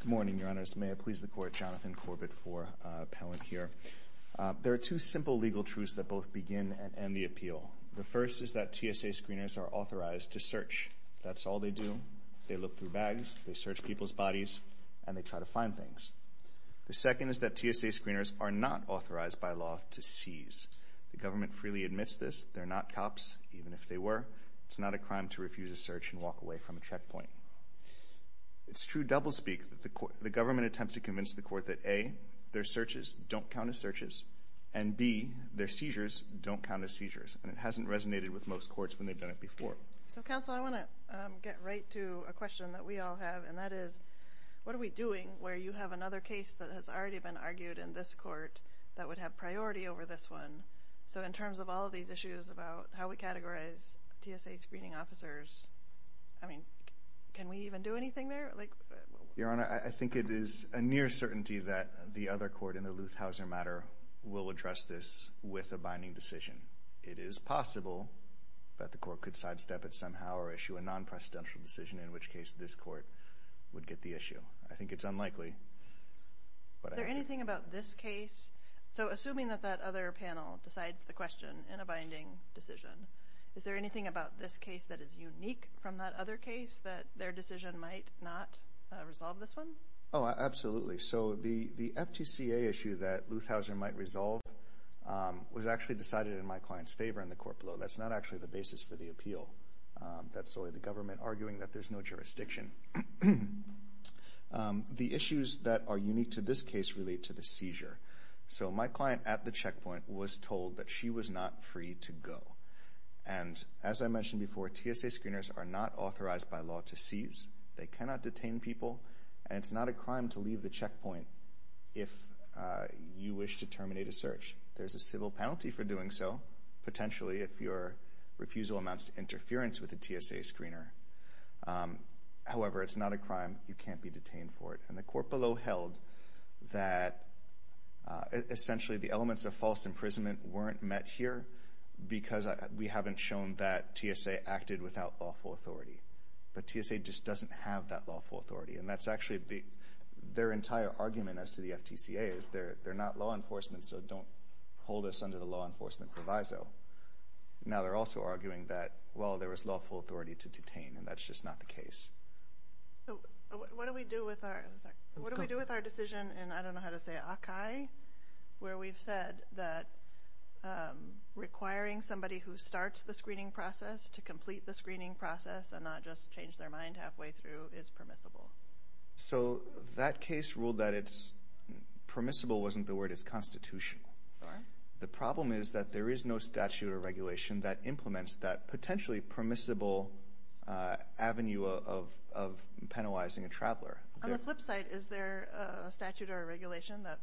Good morning, Your Honors. May it please the Court, Jonathan Corbett IV, appellant here. There are two simple legal truths that both begin and end the appeal. The first is that TSA screeners are authorized to search. That's all they do. They look through bags, they search people's bodies, and they try to find things. The second is that TSA screeners are not authorized by law to seize. The government freely admits this. They're not cops, even if they were. It's not a crime to refuse a search and walk away from a checkpoint. It's true doublespeak that the government attempts to convince the Court that, A, their searches don't count as searches, and B, their seizures don't count as seizures. And it hasn't resonated with most courts when they've done it before. So, Counsel, I want to get right to a question that we all have, and that is, what are we doing where you have another case that has already been argued in this Court that would have priority over this one? So in terms of all of these issues about how we categorize TSA screening officers, I mean, can we even do anything there? Your Honor, I think it is a near certainty that the other court in the Luth-Hauser matter will address this with a binding decision. It is possible that the Court could sidestep it somehow or issue a non-presidential decision, in which case this Court would get the issue. I think it's unlikely. Is there anything about this case? So assuming that that other panel decides the question in a binding decision, is there anything about this case that is unique from that other case that their decision might not resolve this one? Oh, absolutely. So the FTCA issue that Luth-Hauser might resolve was actually decided in my client's favor in the court below. That's not actually the basis for the appeal. That's solely the government arguing that there's no jurisdiction. The issues that are unique to this case relate to the seizure. So my client at the checkpoint was told that she was not free to go. And as I mentioned before, TSA screeners are not authorized by law to seize. They cannot detain people, and it's not a crime to leave the checkpoint if you wish to terminate a search. There's a civil penalty for doing so, potentially if your refusal amounts to interference with a TSA screener. However, it's not a crime. You can't be detained for it. And the court below held that essentially the elements of false imprisonment weren't met here because we haven't shown that TSA acted without lawful authority. But TSA just doesn't have that lawful authority. And that's actually their entire argument as to the FTCA, is they're not law enforcement, so don't hold us under the law enforcement proviso. Now they're also arguing that, well, there was lawful authority to detain, and that's just not the case. What do we do with our decision in, I don't know how to say it, Akai, where we've said that requiring somebody who starts the screening process to complete the screening process and not just change their mind halfway through is permissible? So that case ruled that permissible wasn't the word. It's constitutional. The problem is that there is no statute or regulation that implements that potentially permissible avenue of penalizing a traveler. On the flip side, is there a statute or a regulation that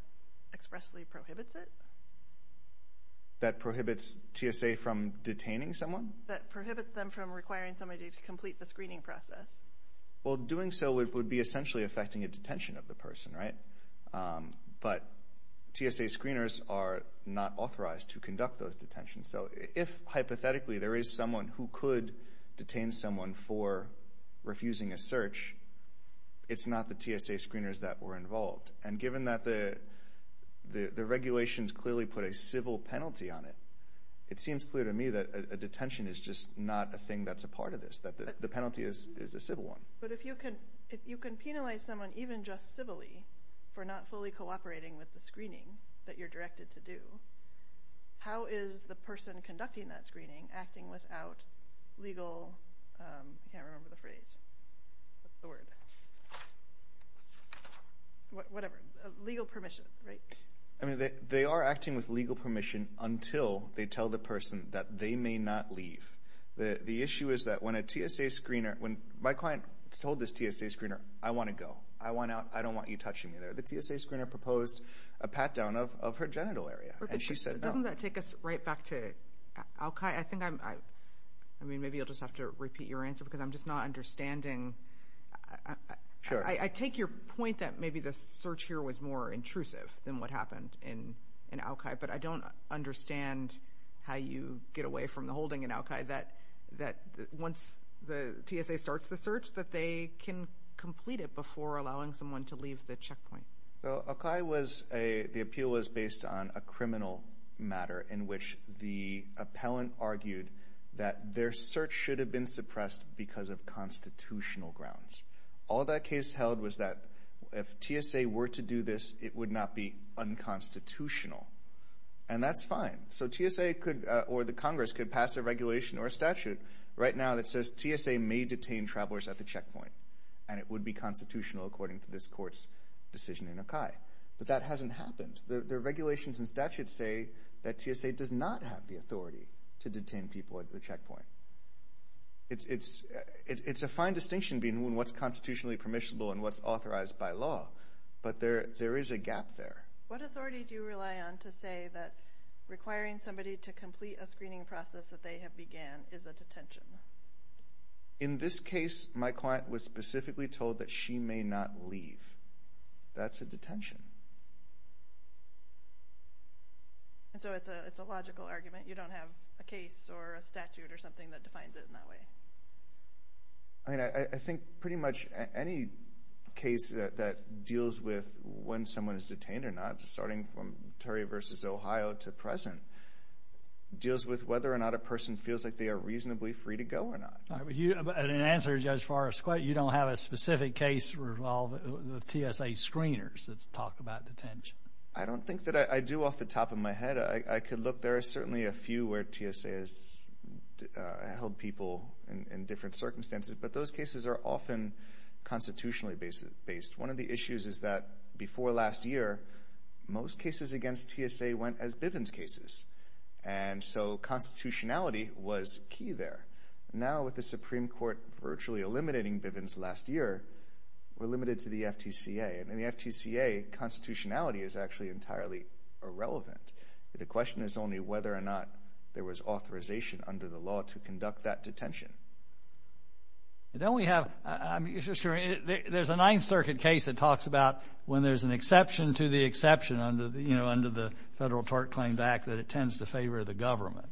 expressly prohibits it? That prohibits TSA from detaining someone? That prohibits them from requiring somebody to complete the screening process. Well, doing so would be essentially affecting a detention of the person, right? But TSA screeners are not authorized to conduct those detentions. So if, hypothetically, there is someone who could detain someone for refusing a search, it's not the TSA screeners that were involved. And given that the regulations clearly put a civil penalty on it, it seems clear to me that a detention is just not a thing that's a part of this, that the penalty is a civil one. But if you can penalize someone even just civilly for not fully cooperating with the screening that you're directed to do, how is the person conducting that screening acting without legal... I can't remember the phrase. What's the word? Whatever. Legal permission, right? I mean, they are acting with legal permission until they tell the person that they may not leave. The issue is that when a TSA screener... When my client told this TSA screener, I want to go, I want out, I don't want you touching me there, the TSA screener proposed a pat-down of her genital area. Doesn't that take us right back to al-Qa'i? I mean, maybe you'll just have to repeat your answer because I'm just not understanding. I take your point that maybe the search here was more intrusive than what happened in al-Qa'i, but I don't understand how you get away from the holding in al-Qa'i that once the TSA starts the search that they can complete it before allowing someone to leave the checkpoint. So al-Qa'i was a... The appeal was based on a criminal matter in which the appellant argued that their search should have been suppressed because of constitutional grounds. All that case held was that if TSA were to do this, it would not be unconstitutional. And that's fine. So TSA or the Congress could pass a regulation or a statute right now that says TSA may detain travelers at the checkpoint, and it would be constitutional according to this court's decision in al-Qa'i. But that hasn't happened. The regulations and statutes say that TSA does not have the authority to detain people at the checkpoint. It's a fine distinction between what's constitutionally permissible and what's authorized by law, but there is a gap there. What authority do you rely on to say that requiring somebody to complete a screening process that they have began is a detention? In this case, my client was specifically told that she may not leave. That's a detention. And so it's a logical argument? You don't have a case or a statute or something that defines it in that way? I mean, I think pretty much any case that deals with when someone is detained or not, starting from Terry v. Ohio to present, deals with whether or not a person feels like they are reasonably free to go or not. In answer to Judge Forrest's question, you don't have a specific case with TSA screeners that talk about detention? I could look. There are certainly a few where TSA has held people in different circumstances, but those cases are often constitutionally based. One of the issues is that before last year, most cases against TSA went as Bivens cases, and so constitutionality was key there. Now, with the Supreme Court virtually eliminating Bivens last year, we're limited to the FTCA. And in the FTCA, constitutionality is actually entirely irrelevant. The question is only whether or not there was authorization under the law to conduct that detention. There's a Ninth Circuit case that talks about when there's an exception to the exception under the Federal Tort Claims Act that it tends to favor the government.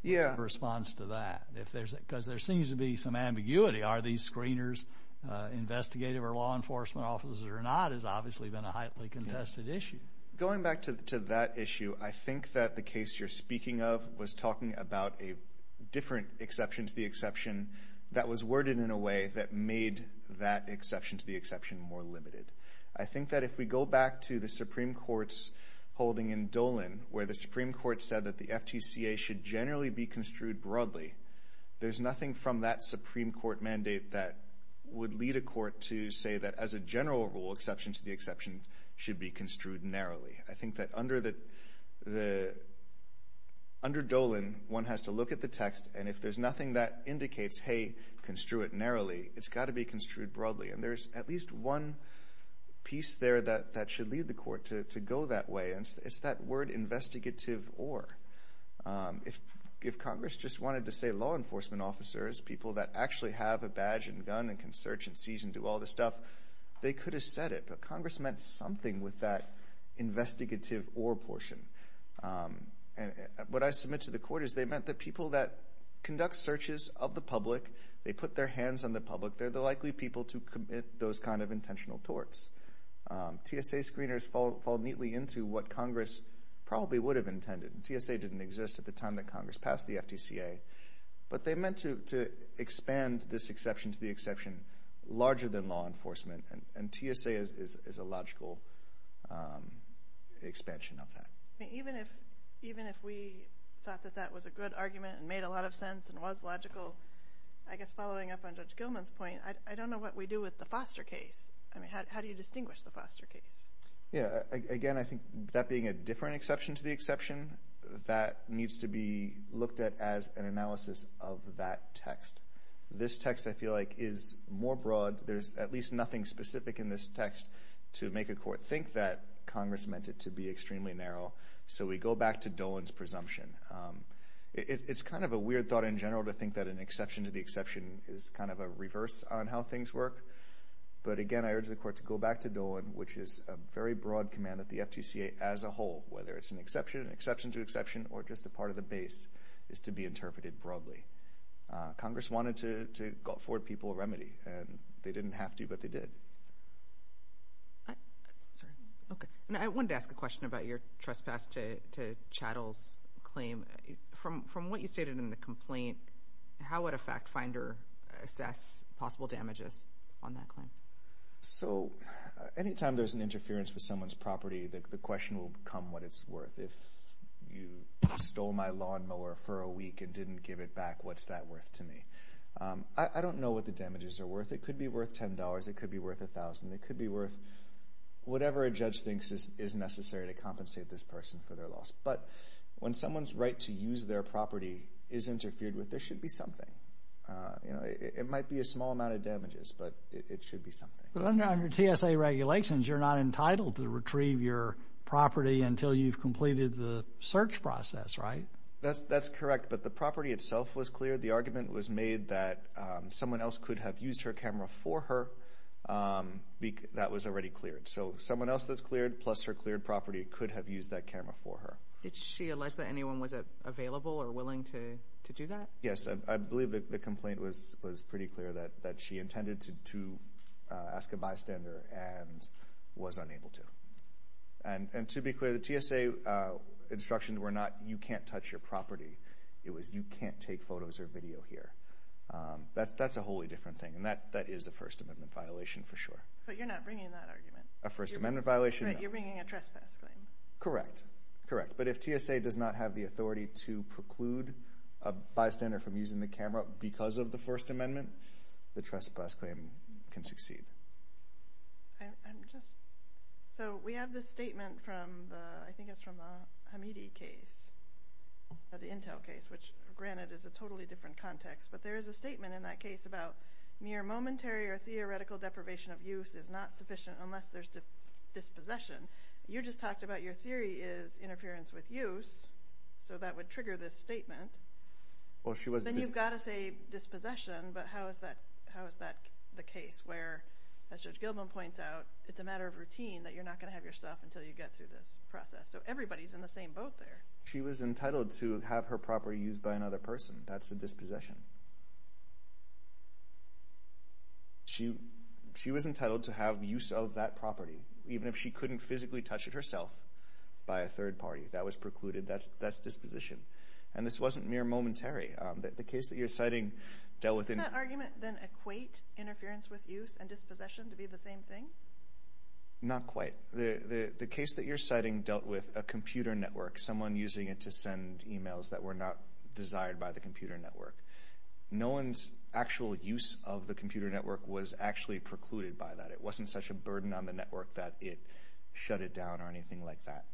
What's your response to that? Because there seems to be some ambiguity. Are these screeners investigative or law enforcement officers or not has obviously been a highly contested issue. Going back to that issue, I think that the case you're speaking of was talking about a different exception to the exception that was worded in a way that made that exception to the exception more limited. I think that if we go back to the Supreme Court's holding in Dolan where the Supreme Court said that the FTCA should generally be construed broadly, there's nothing from that Supreme Court mandate that would lead a court to say that as a general rule, exception to the exception should be construed narrowly. I think that under Dolan, one has to look at the text, and if there's nothing that indicates, hey, construe it narrowly, it's got to be construed broadly. And there's at least one piece there that should lead the court to go that way, and it's that word investigative or. If Congress just wanted to say law enforcement officers, people that actually have a badge and gun and can search and seize and do all this stuff, they could have said it, but Congress meant something with that investigative or portion. And what I submit to the court is they meant the people that conduct searches of the public, they put their hands on the public, they're the likely people to commit those kind of intentional torts. TSA screeners fall neatly into what Congress probably would have intended. TSA didn't exist at the time that Congress passed the FTCA, but they meant to expand this exception to the exception larger than law enforcement, and TSA is a logical expansion of that. Even if we thought that that was a good argument and made a lot of sense and was logical, I guess following up on Judge Gilman's point, I don't know what we do with the Foster case. I mean, how do you distinguish the Foster case? Again, I think that being a different exception to the exception, that needs to be looked at as an analysis of that text. This text, I feel like, is more broad. There's at least nothing specific in this text to make a court think that Congress meant it to be extremely narrow. So we go back to Dolan's presumption. It's kind of a weird thought in general to think that an exception to the exception is kind of a reverse on how things work. But, again, I urge the Court to go back to Dolan, which is a very broad command that the FTCA as a whole, whether it's an exception, an exception to exception, or just a part of the base, is to be interpreted broadly. Congress wanted to afford people a remedy, and they didn't have to, but they did. I wanted to ask a question about your trespass to Chattel's claim. From what you stated in the complaint, how would a fact finder assess possible damages on that claim? Anytime there's an interference with someone's property, the question will become what it's worth. If you stole my lawnmower for a week and didn't give it back, what's that worth to me? I don't know what the damages are worth. It could be worth $10, it could be worth $1,000, it could be worth whatever a judge thinks is necessary to compensate this person for their loss. But when someone's right to use their property is interfered with, there should be something. It might be a small amount of damages, but it should be something. But under TSA regulations, you're not entitled to retrieve your property until you've completed the search process, right? That's correct, but the property itself was cleared. The argument was made that someone else could have used her camera for her. That was already cleared. So someone else that's cleared, plus her cleared property, could have used that camera for her. Did she allege that anyone was available or willing to do that? Yes. I believe the complaint was pretty clear that she intended to ask a bystander and was unable to. And to be clear, the TSA instructions were not you can't touch your property. It was you can't take photos or video here. That's a wholly different thing, and that is a First Amendment violation for sure. But you're not bringing that argument. A First Amendment violation? No. You're bringing a trespass claim. Correct. Correct. But if TSA does not have the authority to preclude a bystander from using the camera because of the First Amendment, the trespass claim can succeed. So we have this statement from the Hamidi case, the Intel case, which granted is a totally different context, but there is a statement in that case about mere momentary or theoretical deprivation of use is not sufficient unless there's dispossession. You just talked about your theory is interference with use, so that would trigger this statement. Then you've got to say dispossession, but how is that the case? Where, as Judge Gilman points out, it's a matter of routine that you're not going to have your stuff until you get through this process. So everybody's in the same boat there. She was entitled to have her property used by another person. That's a dispossession. She was entitled to have use of that property, even if she couldn't physically touch it herself by a third party. That was precluded. That's disposition. And this wasn't mere momentary. The case that you're citing dealt with any – Does that argument then equate interference with use and dispossession to be the same thing? Not quite. The case that you're citing dealt with a computer network, someone using it to send emails that were not desired by the computer network. No one's actual use of the computer network was actually precluded by that. It wasn't such a burden on the network that it shut it down or anything like that.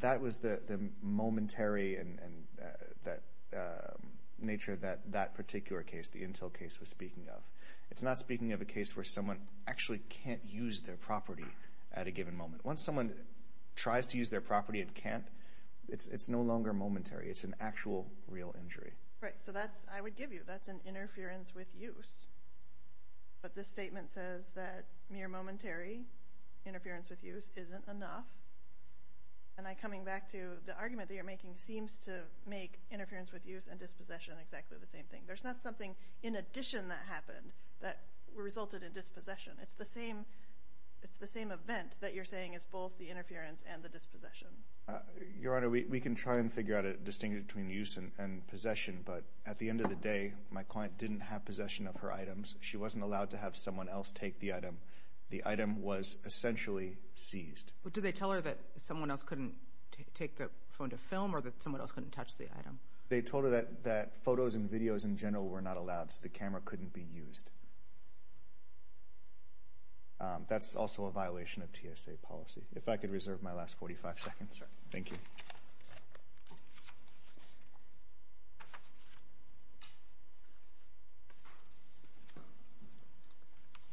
That was the momentary nature that that particular case, the Intel case, was speaking of. It's not speaking of a case where someone actually can't use their property at a given moment. Once someone tries to use their property and can't, it's no longer momentary. It's an actual real injury. Right. So that's – I would give you that's an interference with use. But this statement says that mere momentary interference with use isn't enough. And I'm coming back to the argument that you're making seems to make interference with use and dispossession exactly the same thing. There's not something in addition that happened that resulted in dispossession. It's the same event that you're saying is both the interference and the dispossession. Your Honor, we can try and figure out a distinction between use and possession. But at the end of the day, my client didn't have possession of her items. She wasn't allowed to have someone else take the item. The item was essentially seized. But did they tell her that someone else couldn't take the phone to film or that someone else couldn't touch the item? They told her that photos and videos in general were not allowed, so the camera couldn't be used. That's also a violation of TSA policy. If I could reserve my last 45 seconds. Thank you.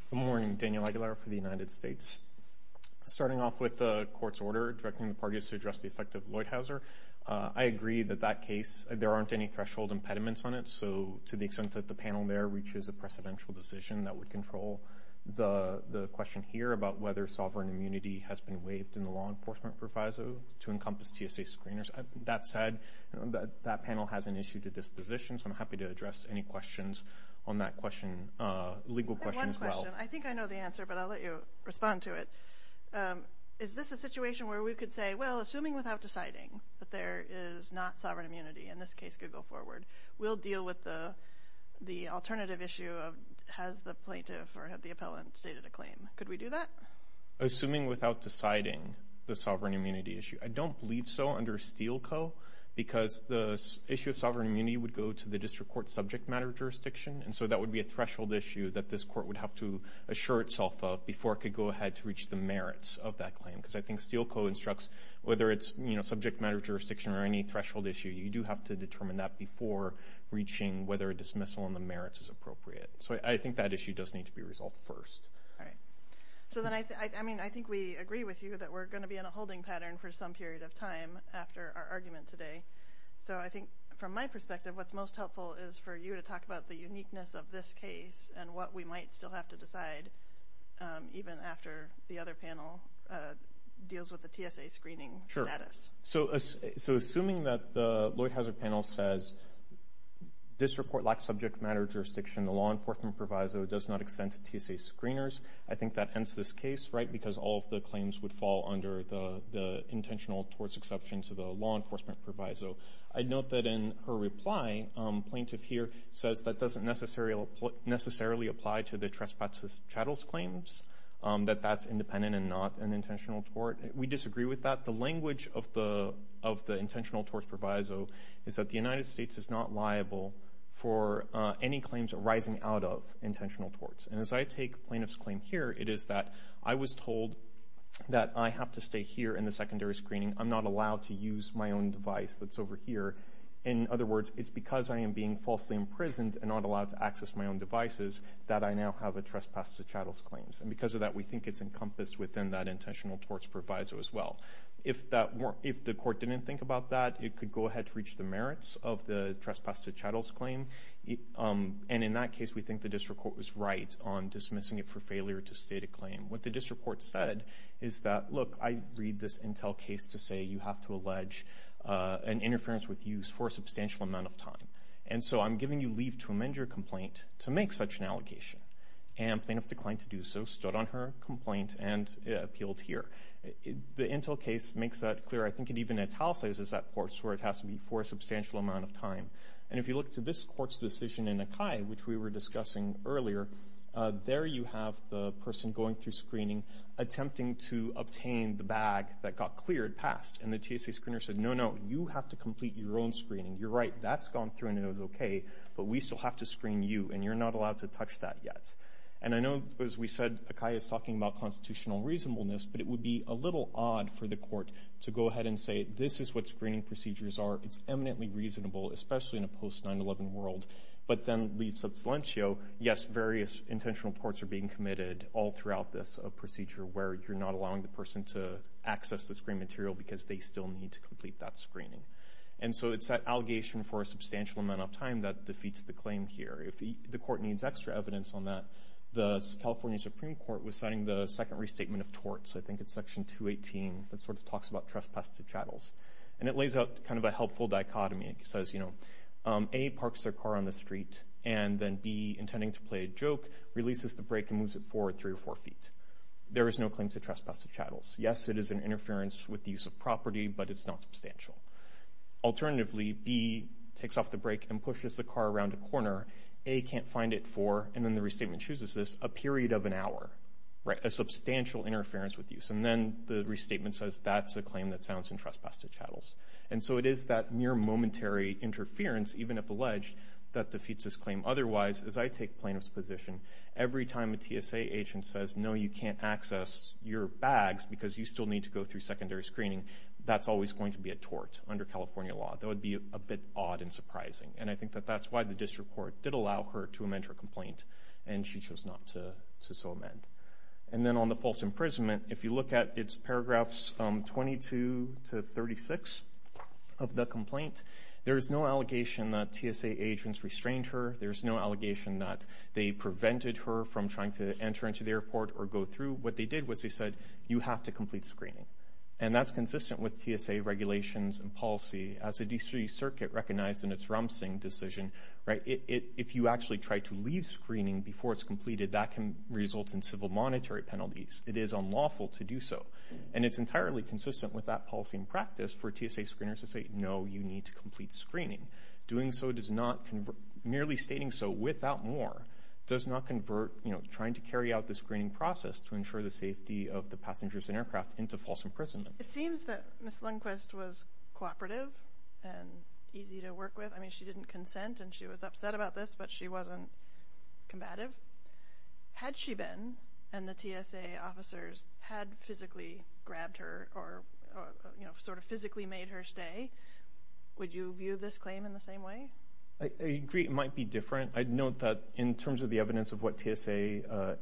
Good morning. Daniel Aguilar for the United States. Starting off with the court's order directing the parties to address the effect of Loithauser, I agree that that case, there aren't any threshold impediments on it. So to the extent that the panel there reaches a precedential decision that would control the question here about whether sovereign immunity has been waived in the law enforcement proviso to encompass TSA screeners, that said, that panel has an issue to disposition, so I'm happy to address any questions on that question, legal questions as well. I have one question. I think I know the answer, but I'll let you respond to it. Is this a situation where we could say, well, assuming without deciding that there is not sovereign immunity, and this case could go forward, we'll deal with the alternative issue of has the plaintiff or had the appellant stated a claim, could we do that? Assuming without deciding the sovereign immunity issue. I don't believe so under Steele Co. Because the issue of sovereign immunity would go to the district court subject matter jurisdiction, and so that would be a threshold issue that this court would have to assure itself of before it could go ahead to reach the merits of that claim. Because I think Steele Co. instructs whether it's, you know, subject matter jurisdiction or any threshold issue, you do have to determine that before reaching whether a dismissal on the merits is appropriate. So I think that issue does need to be resolved first. All right. So then I think we agree with you that we're going to be in a holding pattern for some period of time after our argument today. So I think from my perspective what's most helpful is for you to talk about the uniqueness of this case and what we might still have to decide even after the other panel deals with the TSA screening status. So assuming that the Lloyd Hauser panel says this report lacks subject matter jurisdiction, the law enforcement proviso does not extend to TSA screeners, I think that ends this case, right, because all of the claims would fall under the intentional torts exception to the law enforcement proviso. I note that in her reply, plaintiff here says that doesn't necessarily apply to the trespass chattels claims, that that's independent and not an intentional tort. We disagree with that. The language of the intentional torts proviso is that the United States is not liable for any claims arising out of intentional torts. And as I take plaintiff's claim here, it is that I was told that I have to stay here in the secondary screening. I'm not allowed to use my own device that's over here. In other words, it's because I am being falsely imprisoned and not allowed to access my own devices that I now have a trespass to chattels claims. And because of that, we think it's encompassed within that intentional torts proviso as well. If the court didn't think about that, it could go ahead to reach the merits of the trespass to chattels claim. And in that case, we think the district court was right on dismissing it for failure to state a claim. What the district court said is that, look, I read this Intel case to say you have to allege an interference with use for a substantial amount of time. And so I'm giving you leave to amend your complaint to make such an allegation. And plaintiff declined to do so, stood on her complaint, and appealed here. The Intel case makes that clear. I think it even italicizes that torts where it has to be for a substantial amount of time. And if you look to this court's decision in Akai, which we were discussing earlier, there you have the person going through screening attempting to obtain the bag that got cleared passed. And the TSA screener said, no, no, you have to complete your own screening. You're right, that's gone through, and it was okay, but we still have to screen you, and you're not allowed to touch that yet. And I know, as we said, Akai is talking about constitutional reasonableness, but it would be a little odd for the court to go ahead and say this is what screening procedures are. It's eminently reasonable, especially in a post-9-11 world. But then leaves of silencio, yes, various intentional torts are being committed all throughout this procedure where you're not allowing the person to access the screen material because they still need to complete that screening. And so it's that allegation for a substantial amount of time that defeats the claim here. If the court needs extra evidence on that, the California Supreme Court was citing the second restatement of torts, I think it's section 218, that sort of talks about trespass to chattels. And it lays out kind of a helpful dichotomy. It says, you know, A, parks their car on the street, and then B, intending to play a joke, releases the brake and moves it forward three or four feet. There is no claim to trespass to chattels. Yes, it is an interference with the use of property, but it's not substantial. Alternatively, B takes off the brake and pushes the car around a corner. A can't find it for, and then the restatement chooses this, a period of an hour, right, a substantial interference with use. And then the restatement says that's a claim that sounds in trespass to chattels. And so it is that mere momentary interference, even if alleged, that defeats this claim. Otherwise, as I take plaintiff's position, every time a TSA agent says, no, you can't access your bags because you still need to go through secondary screening, that's always going to be a tort under California law. That would be a bit odd and surprising. And I think that that's why the district court did allow her to amend her complaint, and she chose not to so amend. And then on the false imprisonment, if you look at its paragraphs 22 to 36 of the complaint, there is no allegation that TSA agents restrained her. There's no allegation that they prevented her from trying to enter into the airport or go through. What they did was they said, you have to complete screening. And that's consistent with TSA regulations and policy. As the district circuit recognized in its Ram Singh decision, right, if you actually try to leave screening before it's completed, that can result in civil monetary penalties. It is unlawful to do so. And it's entirely consistent with that policy and practice for TSA screeners to say, no, you need to complete screening. Doing so does not, merely stating so without more, does not convert, you know, trying to carry out the screening process to ensure the safety of the passengers and aircraft into false imprisonment. It seems that Ms. Lundquist was cooperative and easy to work with. I mean, she didn't consent and she was upset about this, but she wasn't combative. Had she been and the TSA officers had physically grabbed her or, you know, sort of physically made her stay, would you view this claim in the same way? I agree it might be different. I'd note that in terms of the evidence of what TSA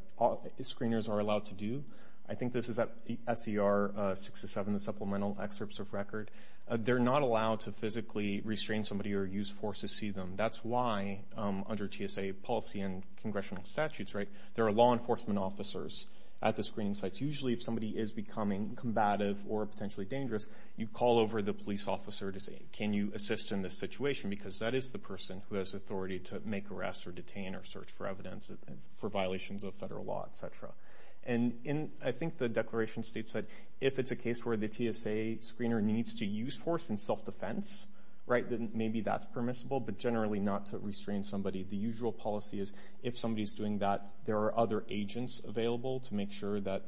screeners are allowed to do, I think this is at SCR 6-7, the supplemental excerpts of record. They're not allowed to physically restrain somebody or use force to see them. That's why under TSA policy and congressional statutes, right, there are law enforcement officers at the screening sites. Usually if somebody is becoming combative or potentially dangerous, you call over the police officer to say, can you assist in this situation because that is the person who has authority to make arrests or detain or search for evidence for violations of federal law, et cetera. And I think the declaration states that if it's a case where the TSA screener needs to use force in self-defense, right, then maybe that's permissible, but generally not to restrain somebody. The usual policy is if somebody is doing that, there are other agents available to make sure that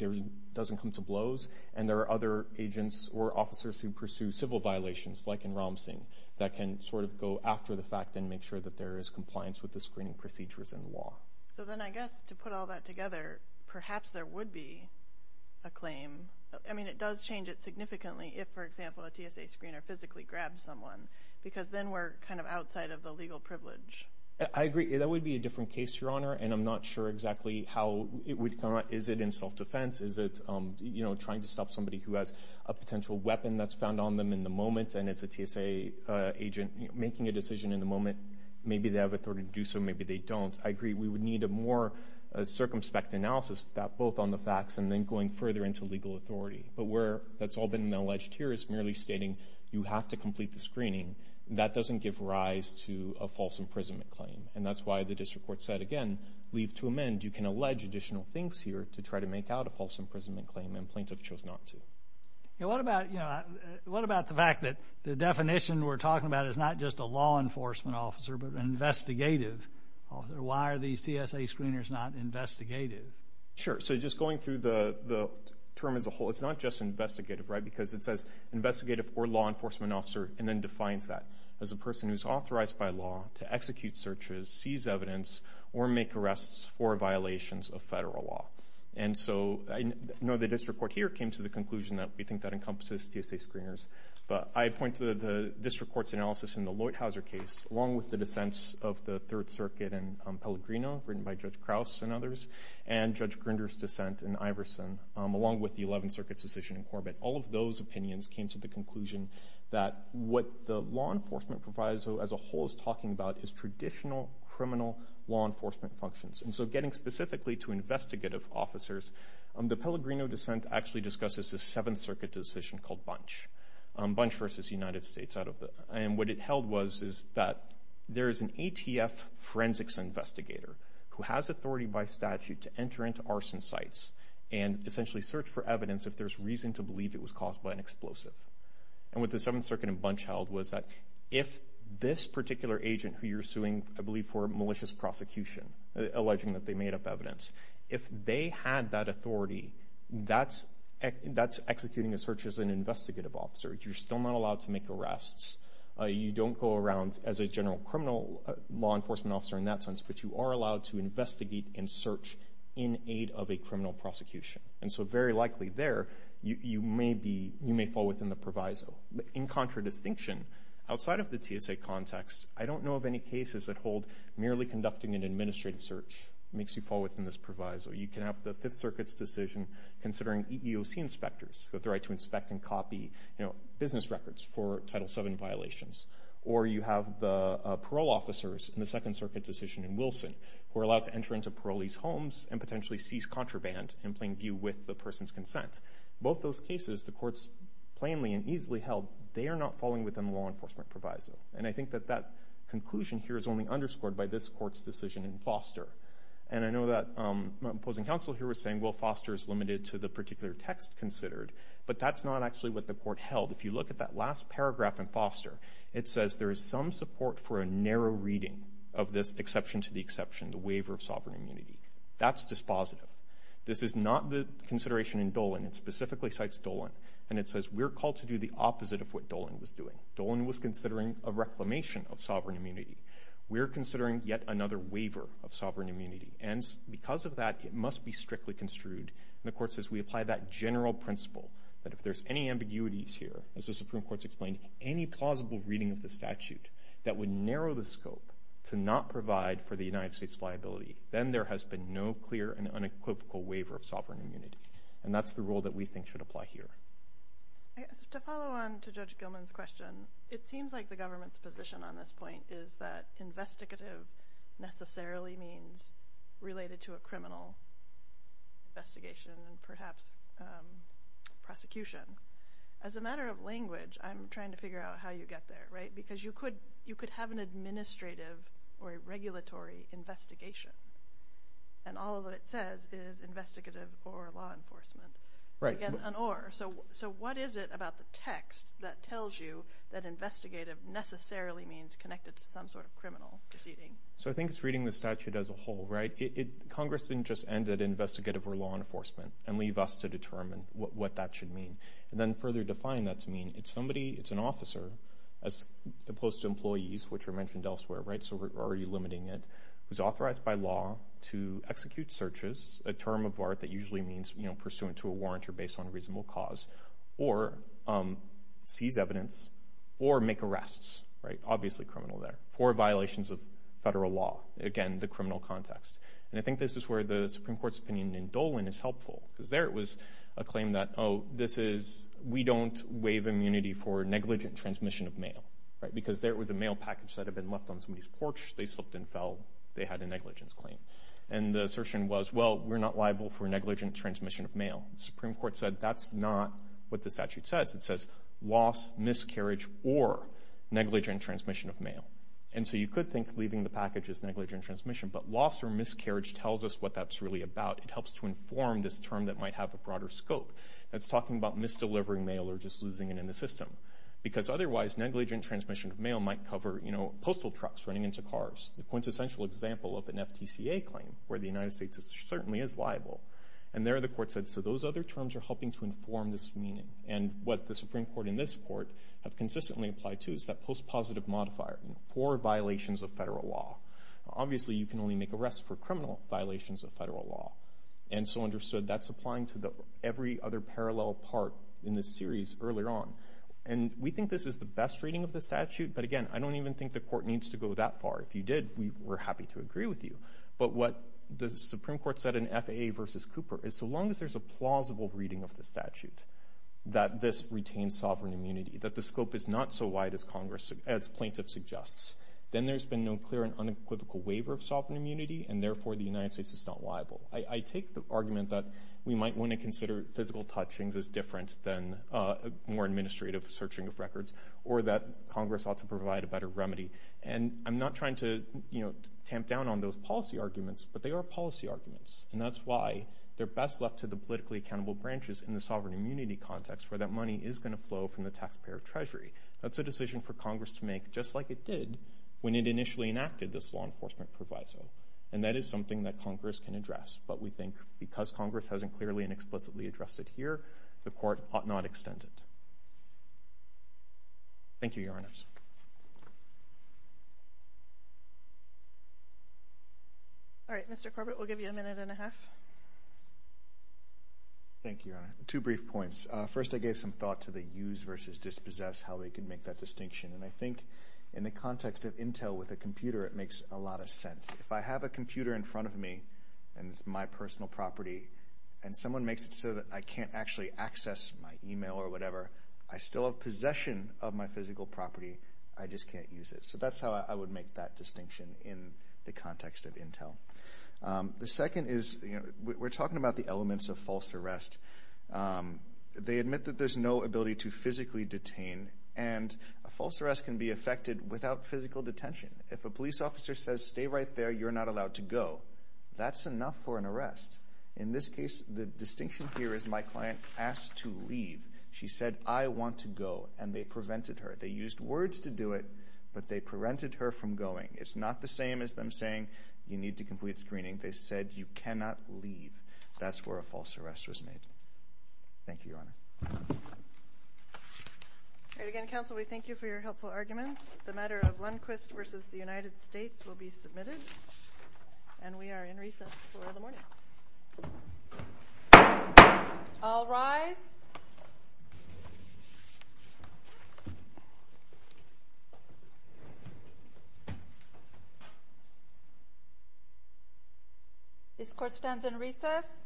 it doesn't come to blows, and there are other agents or officers who pursue civil violations, like in Ram Singh, that can sort of go after the fact and make sure that there is compliance with the screening procedures and law. So then I guess to put all that together, perhaps there would be a claim. I mean, it does change it significantly if, for example, a TSA screener physically grabs someone because then we're kind of outside of the legal privilege. I agree. That would be a different case, Your Honor, and I'm not sure exactly how it would come out. Is it in self-defense? Is it, you know, trying to stop somebody who has a potential weapon that's found on them in the moment and it's a TSA agent making a decision in the moment? Maybe they have authority to do so. Maybe they don't. I agree we would need a more circumspect analysis of that, both on the facts and then going further into legal authority. But where that's all been alleged here is merely stating you have to complete the screening. That doesn't give rise to a false imprisonment claim. And that's why the district court said, again, leave to amend. You can allege additional things here to try to make out a false imprisonment claim, and plaintiffs chose not to. What about the fact that the definition we're talking about is not just a law enforcement officer but an investigative officer? Why are these TSA screeners not investigative? Sure. So just going through the term as a whole, it's not just investigative, right, because it says investigative or law enforcement officer and then defines that as a person who's authorized by law to execute searches, seize evidence, or make arrests for violations of federal law. And so I know the district court here came to the conclusion that we think that encompasses TSA screeners, but I point to the district court's analysis in the Leuthauser case, along with the dissents of the Third Circuit and Pellegrino, written by Judge Krauss and others, and Judge Grinder's dissent in Iverson, along with the Eleventh Circuit's decision in Corbett. All of those opinions came to the conclusion that what the law enforcement proviso as a whole is talking about is traditional criminal law enforcement functions. And so getting specifically to investigative officers, the Pellegrino dissent actually discusses a Seventh Circuit decision called Bunch, Bunch v. United States. And what it held was is that there is an ATF forensics investigator who has authority by statute to enter into arson sites and essentially search for evidence if there's reason to believe it was caused by an explosive. And what the Seventh Circuit and Bunch held was that if this particular agent who you're suing, I believe, for malicious prosecution, alleging that they made up evidence, if they had that authority, that's executing a search as an investigative officer. You're still not allowed to make arrests. You don't go around as a general criminal law enforcement officer in that sense, but you are allowed to investigate and search in aid of a criminal prosecution. And so very likely there, you may fall within the proviso. In contradistinction, outside of the TSA context, I don't know of any cases that hold merely conducting an administrative search makes you fall within this proviso. You can have the Fifth Circuit's decision considering EEOC inspectors who have the right to inspect and copy, you know, business records for Title VII violations. Or you have the parole officers in the Second Circuit decision in Wilson who are allowed to enter into parolees' homes and potentially seize contraband in plain view with the person's consent. Both those cases, the courts plainly and easily held, they are not falling within the law enforcement proviso. And I think that that conclusion here is only underscored by this court's decision in Foster. And I know that my opposing counsel here was saying, well, Foster is limited to the particular text considered, but that's not actually what the court held. If you look at that last paragraph in Foster, it says there is some support for a narrow reading of this exception to the exception, the waiver of sovereign immunity. That's dispositive. This is not the consideration in Dolan. It specifically cites Dolan. And it says we're called to do the opposite of what Dolan was doing. Dolan was considering a reclamation of sovereign immunity. We're considering yet another waiver of sovereign immunity. And because of that, it must be strictly construed. And the court says we apply that general principle that if there's any ambiguities here, as the Supreme Court's explained, any plausible reading of the statute that would narrow the scope to not provide for the United States' liability, then there has been no clear and unequivocal waiver of sovereign immunity. And that's the rule that we think should apply here. To follow on to Judge Gilman's question, it seems like the government's position on this point is that investigative necessarily means related to a criminal investigation and perhaps prosecution. As a matter of language, I'm trying to figure out how you get there, right? Because you could have an administrative or a regulatory investigation, and all of it says is investigative or law enforcement. Right. So what is it about the text that tells you that investigative necessarily means connected to some sort of criminal proceeding? So I think it's reading the statute as a whole, right? Congress didn't just end at investigative or law enforcement and leave us to determine what that should mean. And then further define what that should mean. It's an officer, as opposed to employees, which are mentioned elsewhere, right? So we're already limiting it. Who's authorized by law to execute searches, a term of art that usually means, you know, pursuant to a warrant or based on a reasonable cause, or seize evidence, or make arrests, right? Obviously criminal there. Four violations of federal law. Again, the criminal context. And I think this is where the Supreme Court's opinion in Dolan is helpful. Because there it was, a claim that, oh, this is, we don't waive immunity for negligent transmission of mail, right? Because there it was, a mail package that had been left on somebody's porch. They slipped and fell. They had a negligence claim. And the assertion was, well, we're not liable for negligent transmission of mail. The Supreme Court said that's not what the statute says. It says loss, miscarriage, or negligent transmission of mail. And so you could think leaving the package is negligent transmission. But loss or miscarriage tells us what that's really about. It helps to inform this term that might have a broader scope. That's talking about misdelivering mail or just losing it in the system. Because otherwise, negligent transmission of mail might cover, you know, postal trucks running into cars. The quintessential example of an FTCA claim where the United States certainly is liable. And there the court said, so those other terms are helping to inform this meaning. And what the Supreme Court and this court have consistently applied to is that post-positive modifier. Four violations of federal law. Obviously, you can only make arrests for criminal violations of federal law. And so understood, that's applying to every other parallel part in this series earlier on. And we think this is the best reading of the statute. But again, I don't even think the court needs to go that far. If you did, we're happy to agree with you. But what the Supreme Court said in FAA versus Cooper is so long as there's a plausible reading of the statute. That this retains sovereign immunity. That the scope is not so wide as plaintiff suggests. Then there's been no clear and unequivocal waiver of sovereign immunity. And therefore, the United States is not liable. I take the argument that we might want to consider physical touchings as different than more administrative searching of records. Or that Congress ought to provide a better remedy. And I'm not trying to, you know, tamp down on those policy arguments. But they are policy arguments. And that's why they're best left to the politically accountable branches in the sovereign immunity context. Where that money is going to flow from the taxpayer treasury. That's a decision for Congress to make just like it did when it initially enacted this law enforcement proviso. And that is something that Congress can address. But we think because Congress hasn't clearly and explicitly addressed it here, the court ought not extend it. Thank you, Your Honors. All right, Mr. Corbett, we'll give you a minute and a half. Thank you, Your Honor. Two brief points. First, I gave some thought to the use versus dispossess, how they can make that distinction. And I think in the context of intel with a computer, it makes a lot of sense. If I have a computer in front of me, and it's my personal property, and someone makes it so that I can't actually access my email or whatever, I still have possession of my physical property. I just can't use it. So that's how I would make that distinction in the context of intel. The second is, you know, we're talking about the elements of false arrest. They admit that there's no ability to physically detain. And a false arrest can be affected without physical detention. If a police officer says, stay right there, you're not allowed to go, that's enough for an arrest. In this case, the distinction here is my client asked to leave. She said, I want to go, and they prevented her. They used words to do it, but they prevented her from going. It's not the same as them saying, you need to complete screening. They said, you cannot leave. That's where a false arrest was made. Thank you, Your Honors. All right, again, counsel, we thank you for your helpful arguments. The matter of Lundquist v. The United States will be submitted. And we are in recess for the morning. All rise. This court stands in recess.